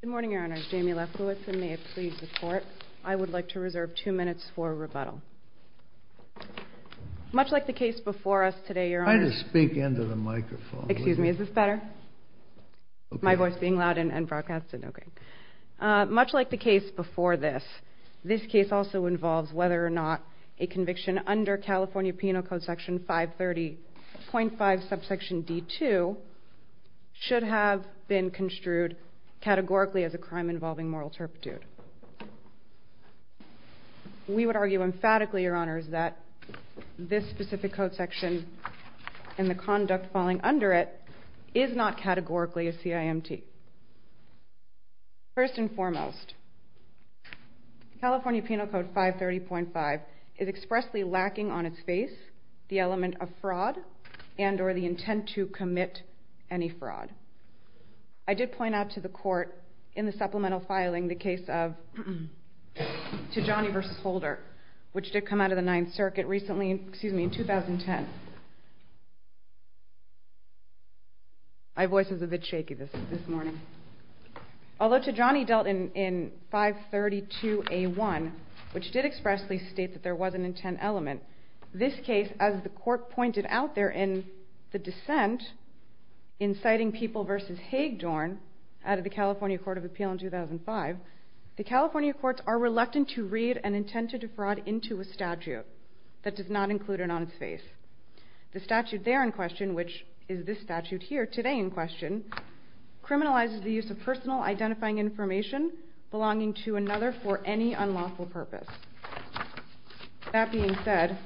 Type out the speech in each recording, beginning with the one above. Good morning, Your Honor. I'm Jamie Lefkowitz, and may it please the Court, I would like to reserve two minutes for rebuttal. Much like the case before us today, Your Honor— Try to speak into the microphone. Excuse me. Is this better? My voice being loud and broadcasted? Okay. Much like the case before this, this case also involves whether or not a conviction under California Penal Code Section 530.5, subsection D2, should have been construed categorically as a crime involving moral turpitude. We would argue emphatically, Your Honors, that this specific code section and the conduct falling under it is not categorically a CIMT. First and foremost, California Penal Code 530.5 is expressly lacking on its face the element of fraud and or the intent to commit any fraud. I did point out to the Court in the supplemental filing the case of Tijani v. Holder, which did come out of the Ninth Circuit in 2010. My voice is a bit shaky this morning. Although Tijani dealt in 532A1, which did expressly state that there was an intent element, this case, as the Court pointed out there in the dissent inciting people v. Haig-Dorn out of the California Court of Appeal in 2005, the California Courts are reluctant to read an intent to defraud into a statute that does not include it on its face. The statute there in question, which is this statute here today in question, criminalizes the use of personal identifying information belonging to another for any unlawful purpose. That being said,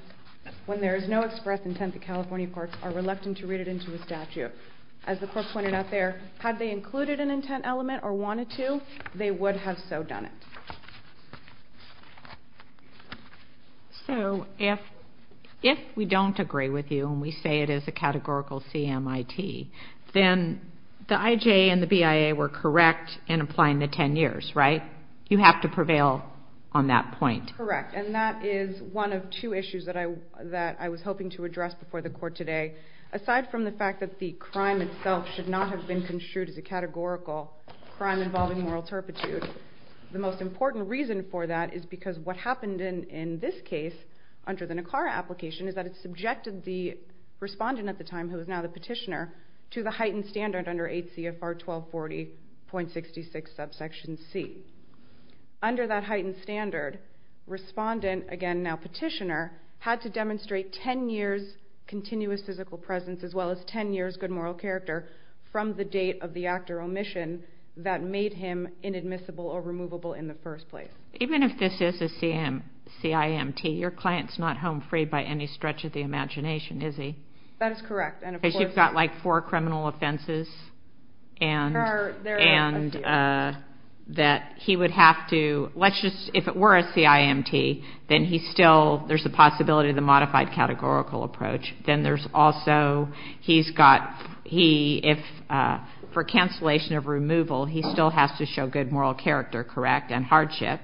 when there is no express intent, the California Courts are reluctant to read it into a statute. As the Court pointed out there, had they included an intent element or wanted to, they would have so done it. So if we don't agree with you and we say it is a categorical CMIT, then the IJA and the BIA were correct in applying the 10 years, right? You have to prevail on that point. Correct, and that is one of two issues that I was hoping to address before the Court today. Aside from the fact that the crime itself should not have been construed as a categorical crime involving moral turpitude, the most important reason for that is because what happened in this case under the Nicara application is that it subjected the respondent at the time, who is now the petitioner, to the heightened standard under 8 CFR 1240.66 subsection C. Under that heightened standard, respondent, again now petitioner, had to demonstrate 10 years continuous physical presence as well as 10 years good moral character from the date of the act or omission that made him inadmissible or removable in the first place. Even if this is a CIMT, your client is not home free by any stretch of the imagination, is he? That is correct. Because you've got like four criminal offenses and that he would have to, let's just, if it were a CIMT, then he still, there's a possibility of the modified categorical approach. Then there's also, he's got, he, if, for cancellation of removal, he still has to show good moral character, correct, and hardship,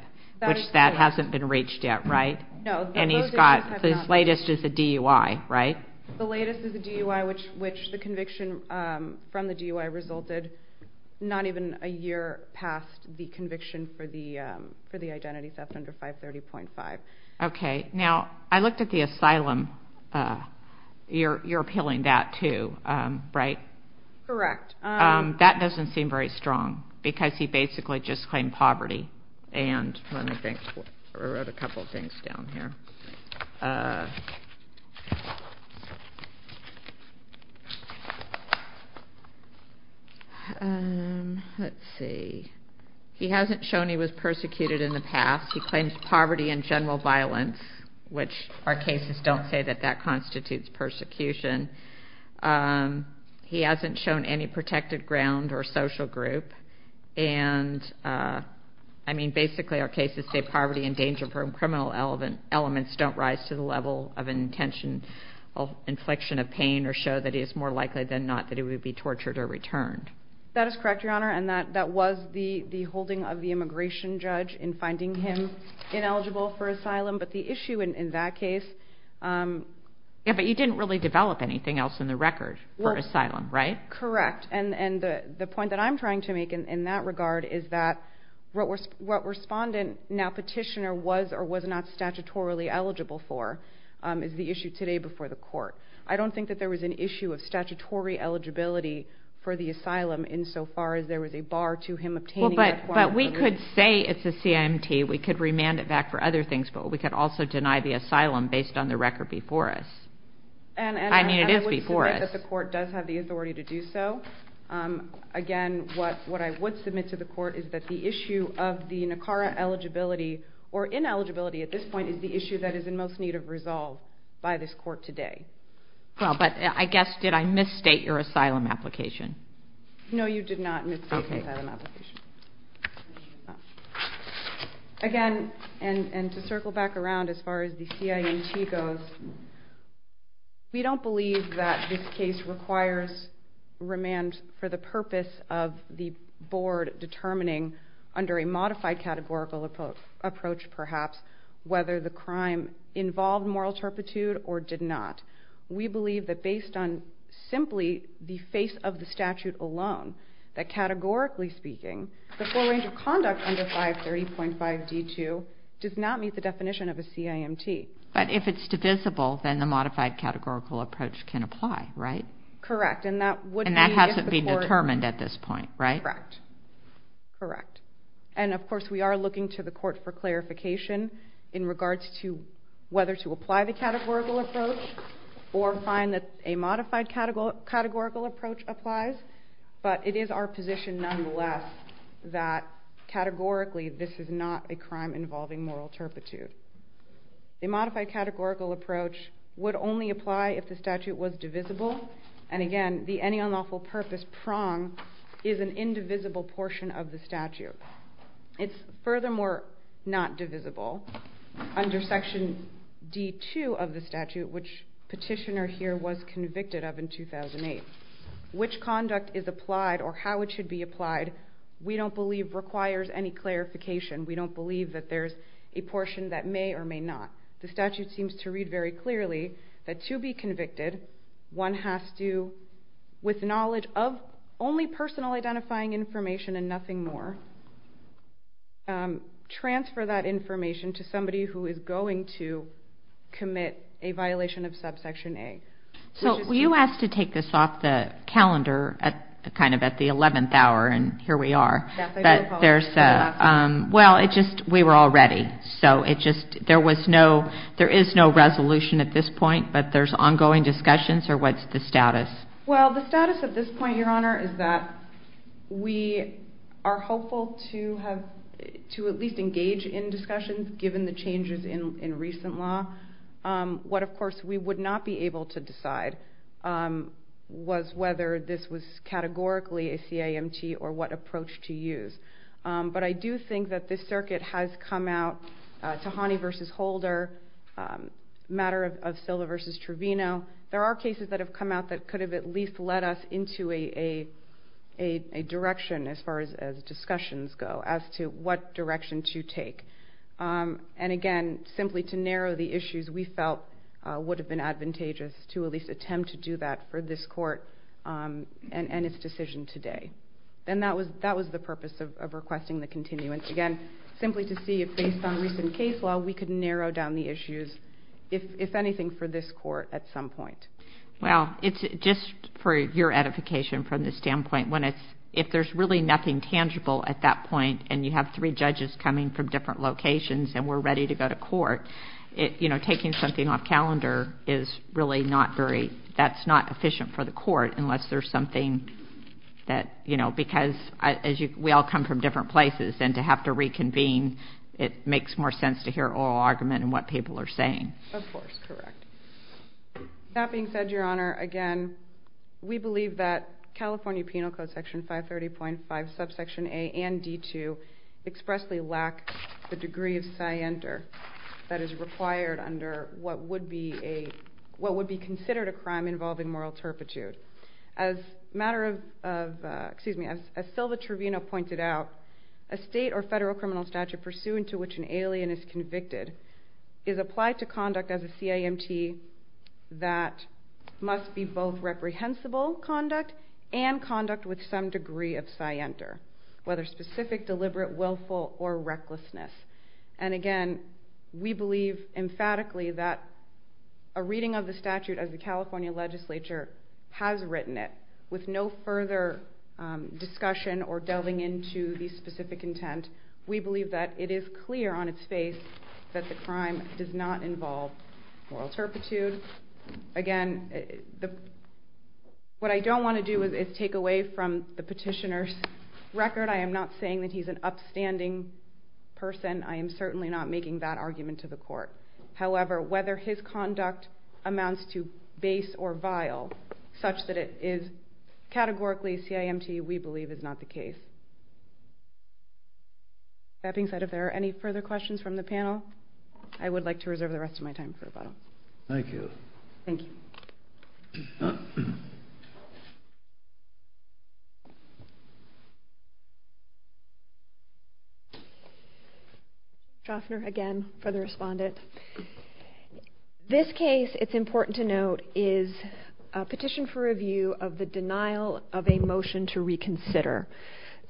which that hasn't been reached yet, right? No. And he's got, his latest is a DUI, right? The latest is a DUI, which the conviction from the DUI resulted not even a year past the conviction for the identity theft under 530.5. Okay. Now, I looked at the asylum, you're appealing that too, right? Correct. That doesn't seem very strong because he basically just claimed poverty and let me think, I wrote a couple of things down here. Let's see. He hasn't shown he was persecuted in the past. He claims poverty and general violence, which our cases don't say that that constitutes persecution. He hasn't shown any protected ground or social group. And, I mean, basically our cases say poverty and danger from criminal elements don't rise to the level of intention of infliction of pain or show that he is more likely than not that he would be tortured or returned. That is correct, Your Honor, and that was the holding of the immigration judge in finding him ineligible for asylum. But the issue in that case... Yeah, but you didn't really develop anything else in the record for asylum, right? Correct. And the point that I'm trying to make in that regard is that what Respondent, now Petitioner, was or was not statutorily eligible for is the issue today before the court. I don't think that there was an issue of statutory eligibility for the asylum insofar as there was a bar to him obtaining that requirement. But we could say it's a CIMT. We could remand it back for other things, but we could also deny the asylum based on the record before us. I mean, it is before us. But the court does have the authority to do so. Again, what I would submit to the court is that the issue of the NACARA eligibility or ineligibility at this point is the issue that is in most need of resolve by this court today. Well, but I guess did I misstate your asylum application? No, you did not misstate your asylum application. Again, and to circle back around as far as the CIMT goes, we don't believe that this case requires remand for the purpose of the board determining under a modified categorical approach perhaps whether the crime involved moral turpitude or did not. We believe that based on simply the face of the statute alone, that categorically speaking, the full range of conduct under 530.5d2 does not meet the definition of a CIMT. But if it's divisible, then the modified categorical approach can apply, right? Correct. And that has to be determined at this point, right? Correct. And, of course, we are looking to the court for clarification in regards to whether to apply the categorical approach or find that a modified categorical approach applies. But it is our position nonetheless that categorically this is not a crime involving moral turpitude. The modified categorical approach would only apply if the statute was divisible. And, again, the any unlawful purpose prong is an indivisible portion of the statute. It's furthermore not divisible. Under Section D.2 of the statute, which Petitioner here was convicted of in 2008, which conduct is applied or how it should be applied we don't believe requires any clarification. We don't believe that there's a portion that may or may not. The statute seems to read very clearly that to be convicted, one has to, with knowledge of only personal identifying information and nothing more, transfer that information to somebody who is going to commit a violation of Subsection A. So were you asked to take this off the calendar kind of at the 11th hour, and here we are. Well, we were all ready. There is no resolution at this point, but there's ongoing discussions, or what's the status? Well, the status at this point, Your Honor, is that we are hopeful to at least engage in discussions given the changes in recent law. What, of course, we would not be able to decide was whether this was categorically a CIMT or what approach to use. But I do think that this circuit has come out, Tahani v. Holder, matter of Silla v. Truvino, there are cases that have come out that could have at least led us into a direction as far as discussions go as to what direction to take. And again, simply to narrow the issues we felt would have been advantageous to at least attempt to do that for this court and its decision today. And that was the purpose of requesting the continuance. Again, simply to see if, based on recent case law, we could narrow down the issues, if anything, for this court at some point. Well, just for your edification from the standpoint, if there's really nothing tangible at that point and you have three judges coming from different locations and we're ready to go to court, taking something off calendar is really not very... that's not efficient for the court unless there's something that... because we all come from different places and to have to reconvene, it makes more sense to hear oral argument and what people are saying. Of course, correct. That being said, Your Honor, again, we believe that California Penal Code Section 530.5, Subsection A and D2 expressly lack the degree of scienter that is required under what would be considered a crime involving moral turpitude. As Silva Trevino pointed out, a state or federal criminal statute pursuant to which an alien is convicted is applied to conduct as a CIMT that must be both reprehensible conduct and conduct with some degree of scienter, whether specific, deliberate, willful, or recklessness. And again, we believe emphatically that a reading of the statute as the California legislature has written it with no further discussion or delving into the specific intent. We believe that it is clear on its face that the crime does not involve moral turpitude. Again, what I don't want to do is take away from the petitioner's record. I am not saying that he's an upstanding person. I am certainly not making that argument to the court. However, whether his conduct amounts to base or vile such that it is categorically CIMT, we believe is not the case. That being said, if there are any further questions from the panel, I would like to reserve the rest of my time for rebuttal. Thank you. Thank you. Dr. Drafner, again, for the respondent. This case, it's important to note, is a petition for review of the denial of a motion to reconsider.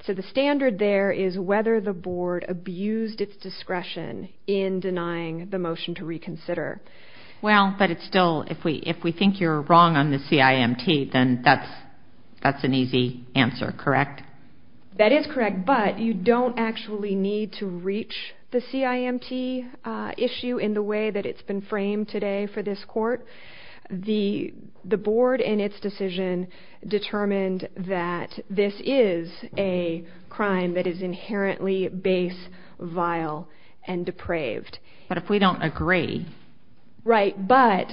So the standard there is whether the board abused its discretion in denying the motion to reconsider. Well, but it's still, if we think you're wrong on the CIMT, then that's an easy answer, correct? That is correct, but you don't actually need to reach the CIMT issue in the way that it's been framed today for this court. The board in its decision determined that this is a crime that is inherently base, vile, and depraved. But if we don't agree... Right, but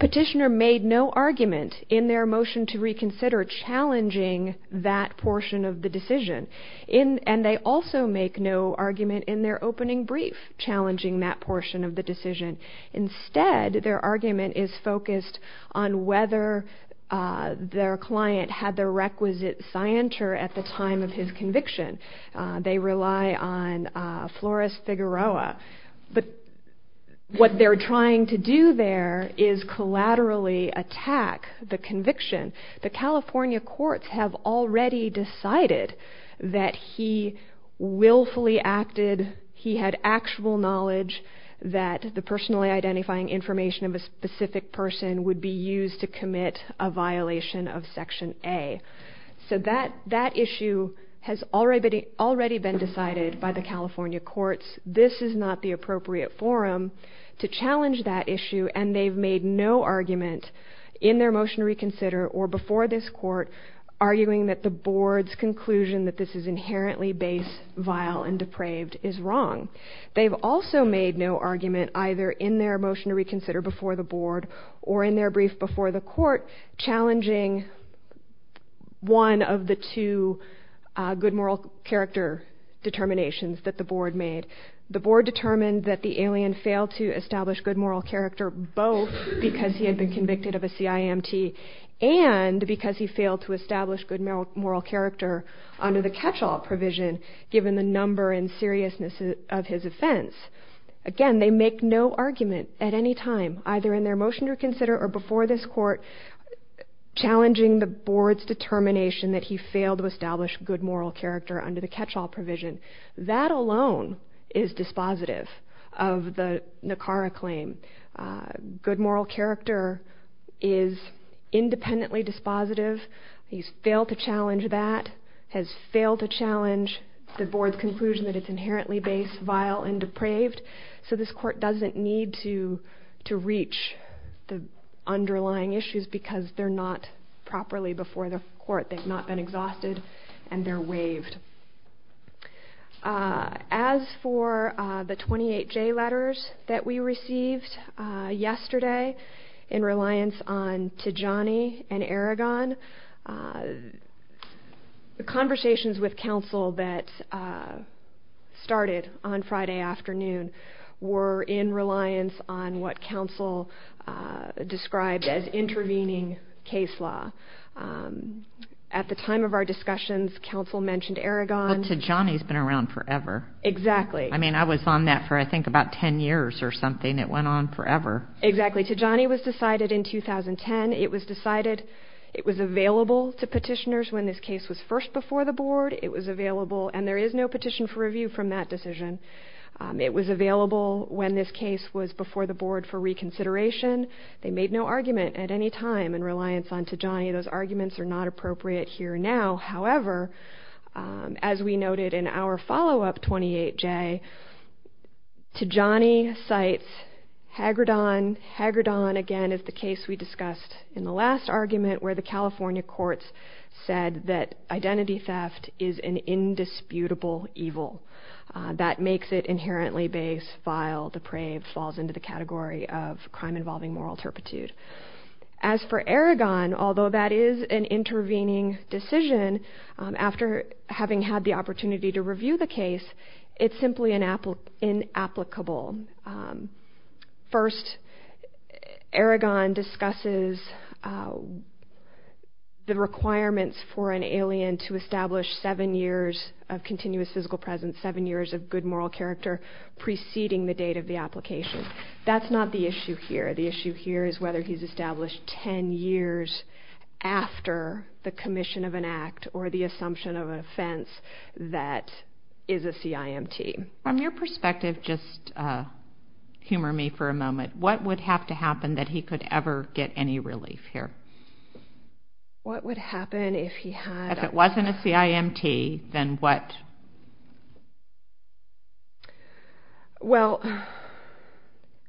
petitioner made no argument in their motion to reconsider challenging that portion of the decision. And they also make no argument in their opening brief challenging that portion of the decision. Instead, their argument is focused on whether their client had the requisite scienter at the time of his conviction. They rely on Flores Figueroa. But what they're trying to do there is collaterally attack the conviction. The California courts have already decided that he willfully acted, he had actual knowledge that the personally identifying information of a specific person would be used to commit a violation of Section A. So that issue has already been decided by the California courts. This is not the appropriate forum to challenge that issue. And they've made no argument in their motion to reconsider or before this court arguing that the board's conclusion that this is inherently base, vile, and depraved is wrong. They've also made no argument either in their motion to reconsider before the board or in their brief before the court challenging one of the two good moral character determinations that the board made. The board determined that the alien failed to establish good moral character both because he had been convicted of a CIMT and because he failed to establish good moral character under the catch-all provision given the number and seriousness of his offense. Again, they make no argument at any time either in their motion to consider or before this court challenging the board's determination that he failed to establish good moral character under the catch-all provision. That alone is dispositive of the NACARA claim. Good moral character is independently dispositive. He's failed to challenge that, has failed to challenge the board's conclusion that it's inherently base, vile, and depraved. So this court doesn't need to reach the underlying issues because they're not properly before the court. They've not been exhausted and they're waived. As for the 28J letters that we received yesterday in reliance on Tijani and Aragon, the conversations with counsel that started on Friday afternoon were in reliance on what counsel described as intervening case law. At the time of our discussions, counsel mentioned Aragon. Well, Tijani's been around forever. Exactly. I mean, I was on that for, I think, about 10 years or something. It went on forever. Exactly. Tijani was decided in 2010. It was decided it was available to petitioners when this case was first before the board. It was available, and there is no petition for review from that decision. It was available when this case was before the board for reconsideration. They made no argument at any time in reliance on Tijani. Those arguments are not appropriate here now. However, as we noted in our follow-up 28J, Tijani cites Hagerdon. Hagerdon, again, is the case we discussed in the last argument where the California courts said that identity theft is an indisputable evil. That makes it inherently base, vile, depraved, and thus falls into the category of crime involving moral turpitude. As for Aragon, although that is an intervening decision, after having had the opportunity to review the case, it's simply inapplicable. First, Aragon discusses the requirements for an alien to establish seven years of continuous physical presence, seven years of good moral character, preceding the date of the application. That's not the issue here. The issue here is whether he's established ten years after the commission of an act or the assumption of an offense that is a CIMT. From your perspective, just humor me for a moment. What would have to happen that he could ever get any relief here? What would happen if he had? If it wasn't a CIMT, then what? Well,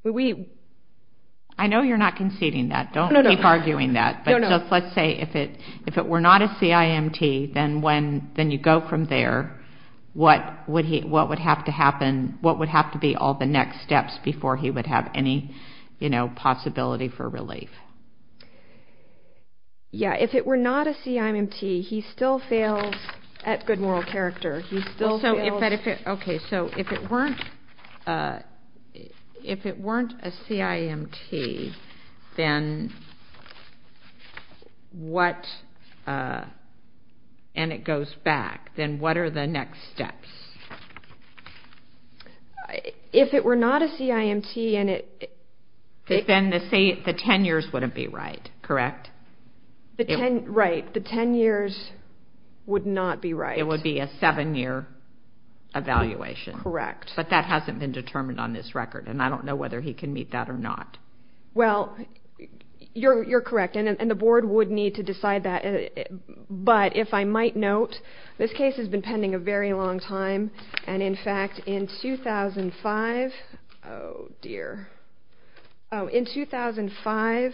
we... I know you're not conceding that. Don't keep arguing that. No, no. Let's say if it were not a CIMT, then you go from there. What would have to be all the next steps before he would have any possibility for relief? Yeah, if it were not a CIMT, he still fails at good moral character. He still fails... Okay, so if it weren't a CIMT, then what? And it goes back. Then what are the next steps? If it were not a CIMT and it... Then the ten years wouldn't be right, correct? Right. The ten years would not be right. It would be a seven-year evaluation. Correct. But that hasn't been determined on this record, and I don't know whether he can meet that or not. Well, you're correct, and the board would need to decide that. But if I might note, this case has been pending a very long time, and, in fact, in 2005... Oh, dear. Oh, in 2005,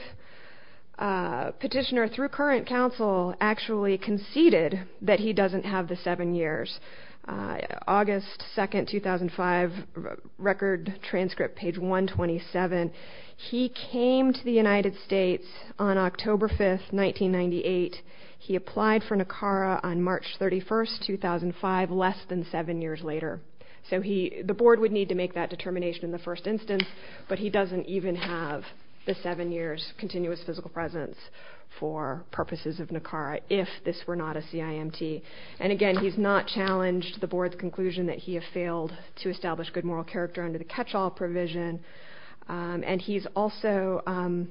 Petitioner, through current counsel, actually conceded that he doesn't have the seven years. August 2, 2005, Record Transcript, page 127. He came to the United States on October 5, 1998. He applied for NACARA on March 31, 2005, less than seven years later. So the board would need to make that determination in the first instance, but he doesn't even have the seven years continuous physical presence for purposes of NACARA if this were not a CIMT. And, again, he's not challenged the board's conclusion that he has failed to establish good moral character under the catch-all provision. And he's also...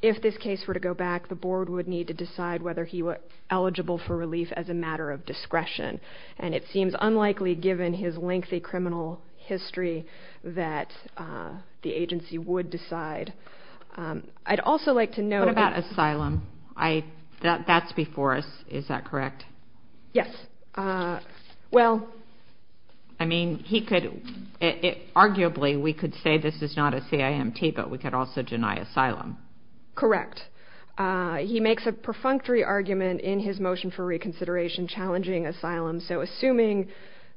If this case were to go back, the board would need to decide whether he was eligible for relief as a matter of discretion. And it seems unlikely, given his lengthy criminal history, that the agency would decide. I'd also like to note... What about asylum? That's before us, is that correct? Yes. Well... I mean, he could... Arguably, we could say this is not a CIMT, but we could also deny asylum. Correct. He makes a perfunctory argument in his motion for reconsideration challenging asylum. So assuming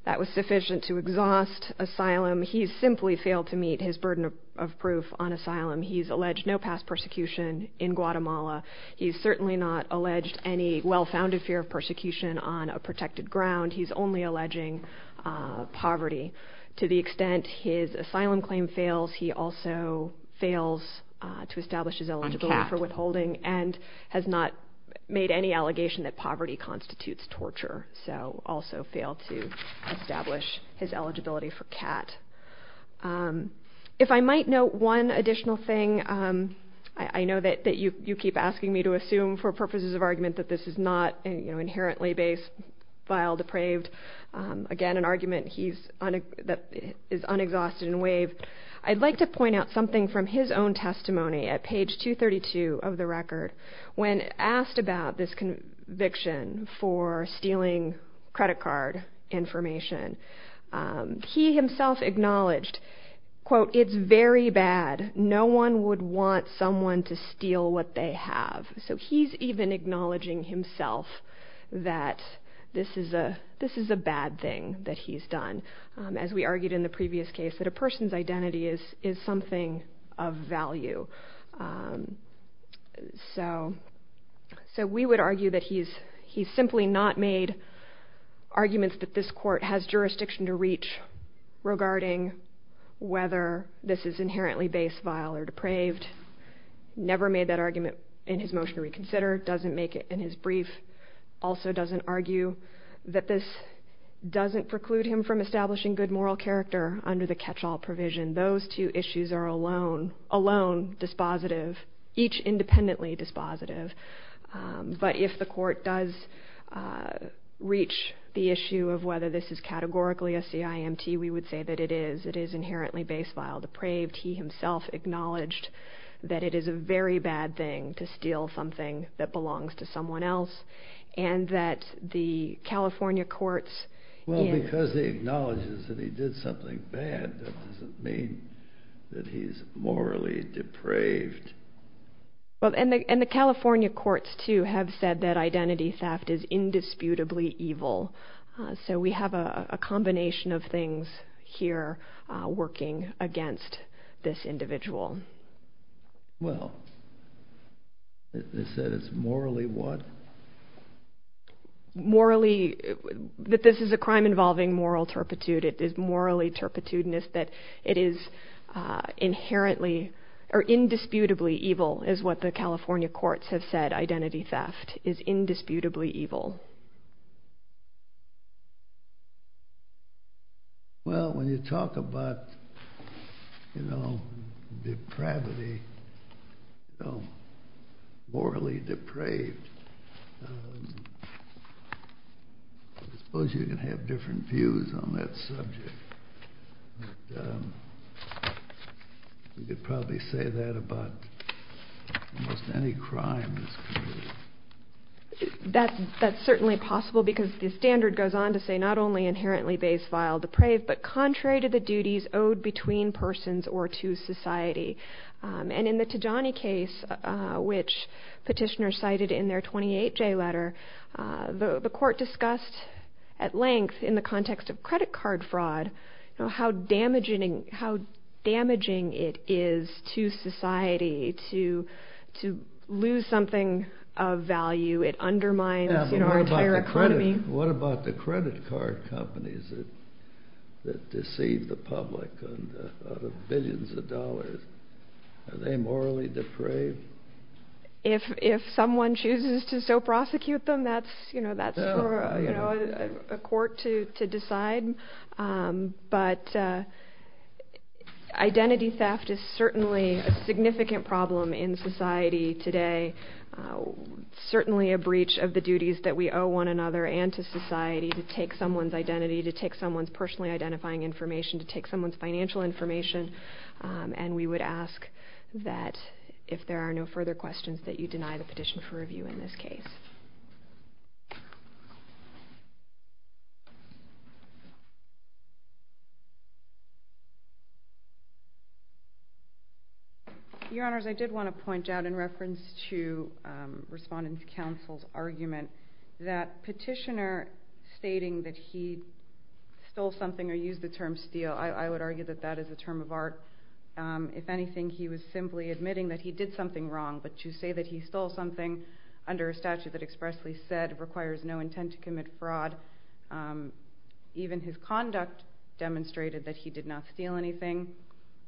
that was sufficient to exhaust asylum, he's simply failed to meet his burden of proof on asylum. He's alleged no past persecution in Guatemala. He's certainly not alleged any well-founded fear of persecution on a protected ground. He's only alleging poverty. To the extent his asylum claim fails, he also fails to establish his eligibility for withholding and has not made any allegation that poverty constitutes torture, so also failed to establish his eligibility for CAT. If I might note one additional thing, I know that you keep asking me to assume, for purposes of argument, that this is not inherently base, vile, depraved. Again, an argument that is unexhausted in WAVE. I'd like to point out something from his own testimony at page 232 of the record. When asked about this conviction for stealing credit card information, he himself acknowledged, quote, it's very bad. No one would want someone to steal what they have. So he's even acknowledging himself that this is a bad thing that he's done, as we argued in the previous case, that a person's identity is something of value. So we would argue that he's simply not made arguments that this court has jurisdiction to reach regarding whether this is inherently base, vile, or depraved, never made that argument in his motion to reconsider, doesn't make it in his brief, also doesn't argue that this doesn't preclude him from establishing good moral character under the catch-all provision. Those two issues are alone dispositive, each independently dispositive. But if the court does reach the issue of whether this is categorically a CIMT, we would say that it is. It is inherently base, vile, depraved. He himself acknowledged that it is a very bad thing to steal something that belongs to someone else, and that the California courts... Well, because he acknowledges that he did something bad, that doesn't mean that he's morally depraved. And the California courts, too, have said that identity theft is indisputably evil. So we have a combination of things here working against this individual. Well, they said it's morally what? Morally, that this is a crime involving moral turpitude. It is morally turpitudinous, that it is indisputably evil, is what the California courts have said. Identity theft is indisputably evil. Well, when you talk about, you know, depravity, you know, morally depraved, I suppose you can have different views on that subject. But you could probably say that about almost any crime in this community. That's true. It's certainly possible because the standard goes on to say not only inherently base, vile, depraved, but contrary to the duties owed between persons or to society. And in the Tijani case, which petitioners cited in their 28J letter, the court discussed at length, in the context of credit card fraud, how damaging it is to society to lose something of value. It undermines our entire economy. What about the credit card companies that deceive the public out of billions of dollars? Are they morally depraved? If someone chooses to so prosecute them, that's for a court to decide. But identity theft is certainly a significant problem in society today, certainly a breach of the duties that we owe one another and to society to take someone's identity, to take someone's personally identifying information, to take someone's financial information. And we would ask that if there are no further questions, that you deny the petition for review in this case. Your Honours, I did want to point out in reference to Respondent Counsel's argument that petitioner stating that he stole something or used the term steal, I would argue that that is a term of art. If anything, he was simply admitting that he did something wrong, to the public, I think that's a terrible thing. It requires no intent to commit fraud. Even his conduct demonstrated that he did not steal anything.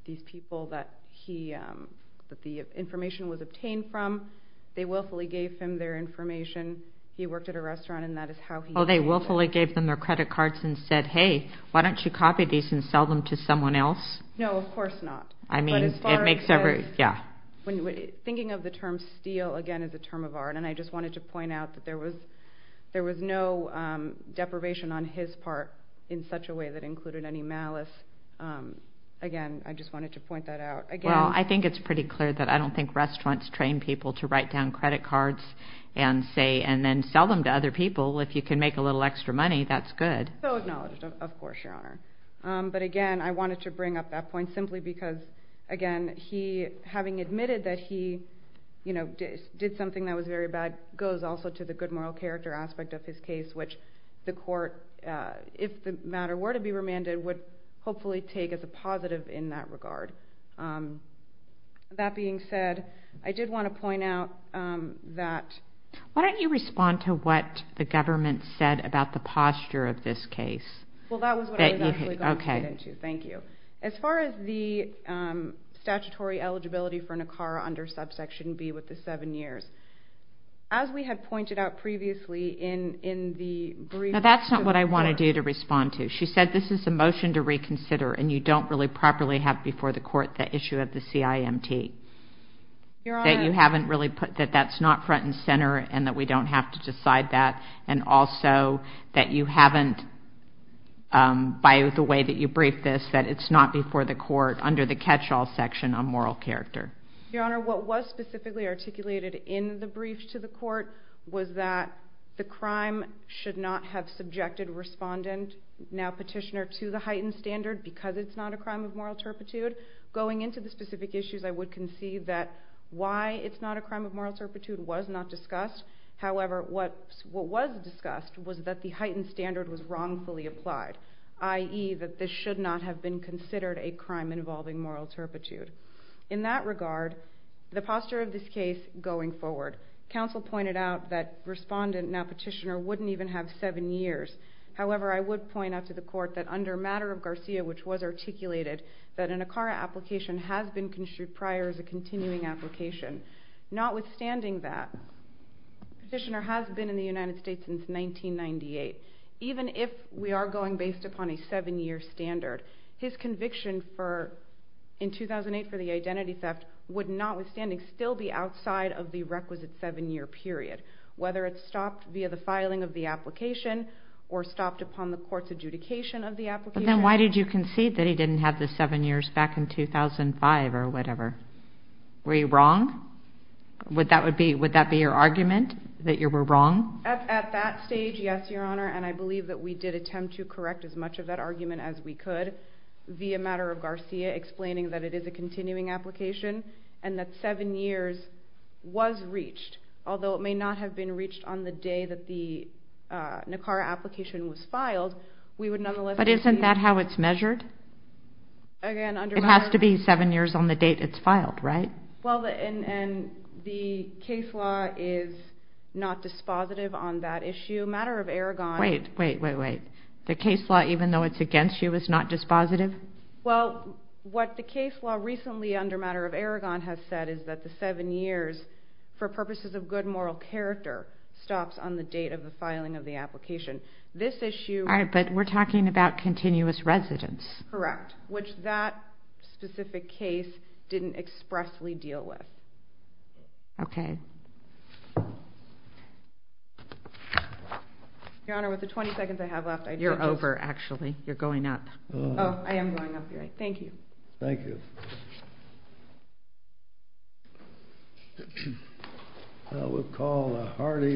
These people that the information was obtained from, they willfully gave him their information. He worked at a restaurant and that is how he... Oh, they willfully gave them their credit cards and said, hey, why don't you copy these and sell them to someone else? No, of course not. I mean, it makes every... yeah. Thinking of the term steal, again, is a term of art. And I just wanted to point out that there was no deprivation on his part in such a way that included any malice. Again, I just wanted to point that out. Well, I think it's pretty clear that I don't think restaurants train people to write down credit cards and then sell them to other people. If you can make a little extra money, that's good. So acknowledged, of course, Your Honour. But again, I wanted to bring up that point simply because, again, having admitted that he did something that was very bad goes also to the good moral character aspect of his case, which the court, if the matter were to be remanded, would hopefully take as a positive in that regard. That being said, I did want to point out that... Why don't you respond to what the government said about the posture of this case? Well, that was what I was actually going to get into. Thank you. As far as the statutory eligibility for NACARA under subsection B with the seven years, as we had pointed out previously in the brief... No, that's not what I want to do to respond to. She said this is a motion to reconsider and you don't really properly have before the court the issue of the CIMT. Your Honour... That you haven't really put that that's not front and centre and that we don't have to decide that and also that you haven't, by the way that you briefed this, that it's not before the court under the catch-all section on moral character. Your Honour, what was specifically articulated in the brief to the court was that the crime should not have subjected respondent, now petitioner, to the heightened standard because it's not a crime of moral turpitude. Going into the specific issues, I would concede that why it's not a crime of moral turpitude was not discussed. However, what was discussed was that the heightened standard was wrongfully applied, i.e. that this should not have been considered a crime involving moral turpitude. In that regard, the posture of this case going forward, counsel pointed out that respondent, now petitioner, wouldn't even have seven years. However, I would point out to the court that under matter of Garcia, which was articulated, that an ACARA application has been construed prior as a continuing application. Notwithstanding that, petitioner has been in the United States since 1998. Even if we are going based upon a seven-year standard, his conviction in 2008 for the identity theft would notwithstanding still be outside of the requisite seven-year period, whether it's stopped via the filing of the application or stopped upon the court's adjudication of the application. Then why did you concede that he didn't have the seven years back in 2005 or whatever? Were you wrong? Would that be your argument, that you were wrong? At that stage, yes, Your Honor, and I believe that we did attempt to correct as much of that argument as we could via matter of Garcia explaining that it is a continuing application and that seven years was reached, although it may not have been reached on the day that the ACARA application was filed. But isn't that how it's measured? It has to be seven years on the date it's filed, right? The case law is not dispositive on that issue. Wait, wait, wait, wait. The case law, even though it's against you, is not dispositive? Well, what the case law recently under matter of Aragon has said is that the seven years, for purposes of good moral character, stops on the date of the filing of the application. All right, but we're talking about continuous residence. Correct, which that specific case didn't expressly deal with. Okay. Your Honor, with the 20 seconds I have left, I'd like to just... You're over, actually. You're going up. Oh, I am going up, you're right. Thank you. Thank you. I would call a Hardy versus...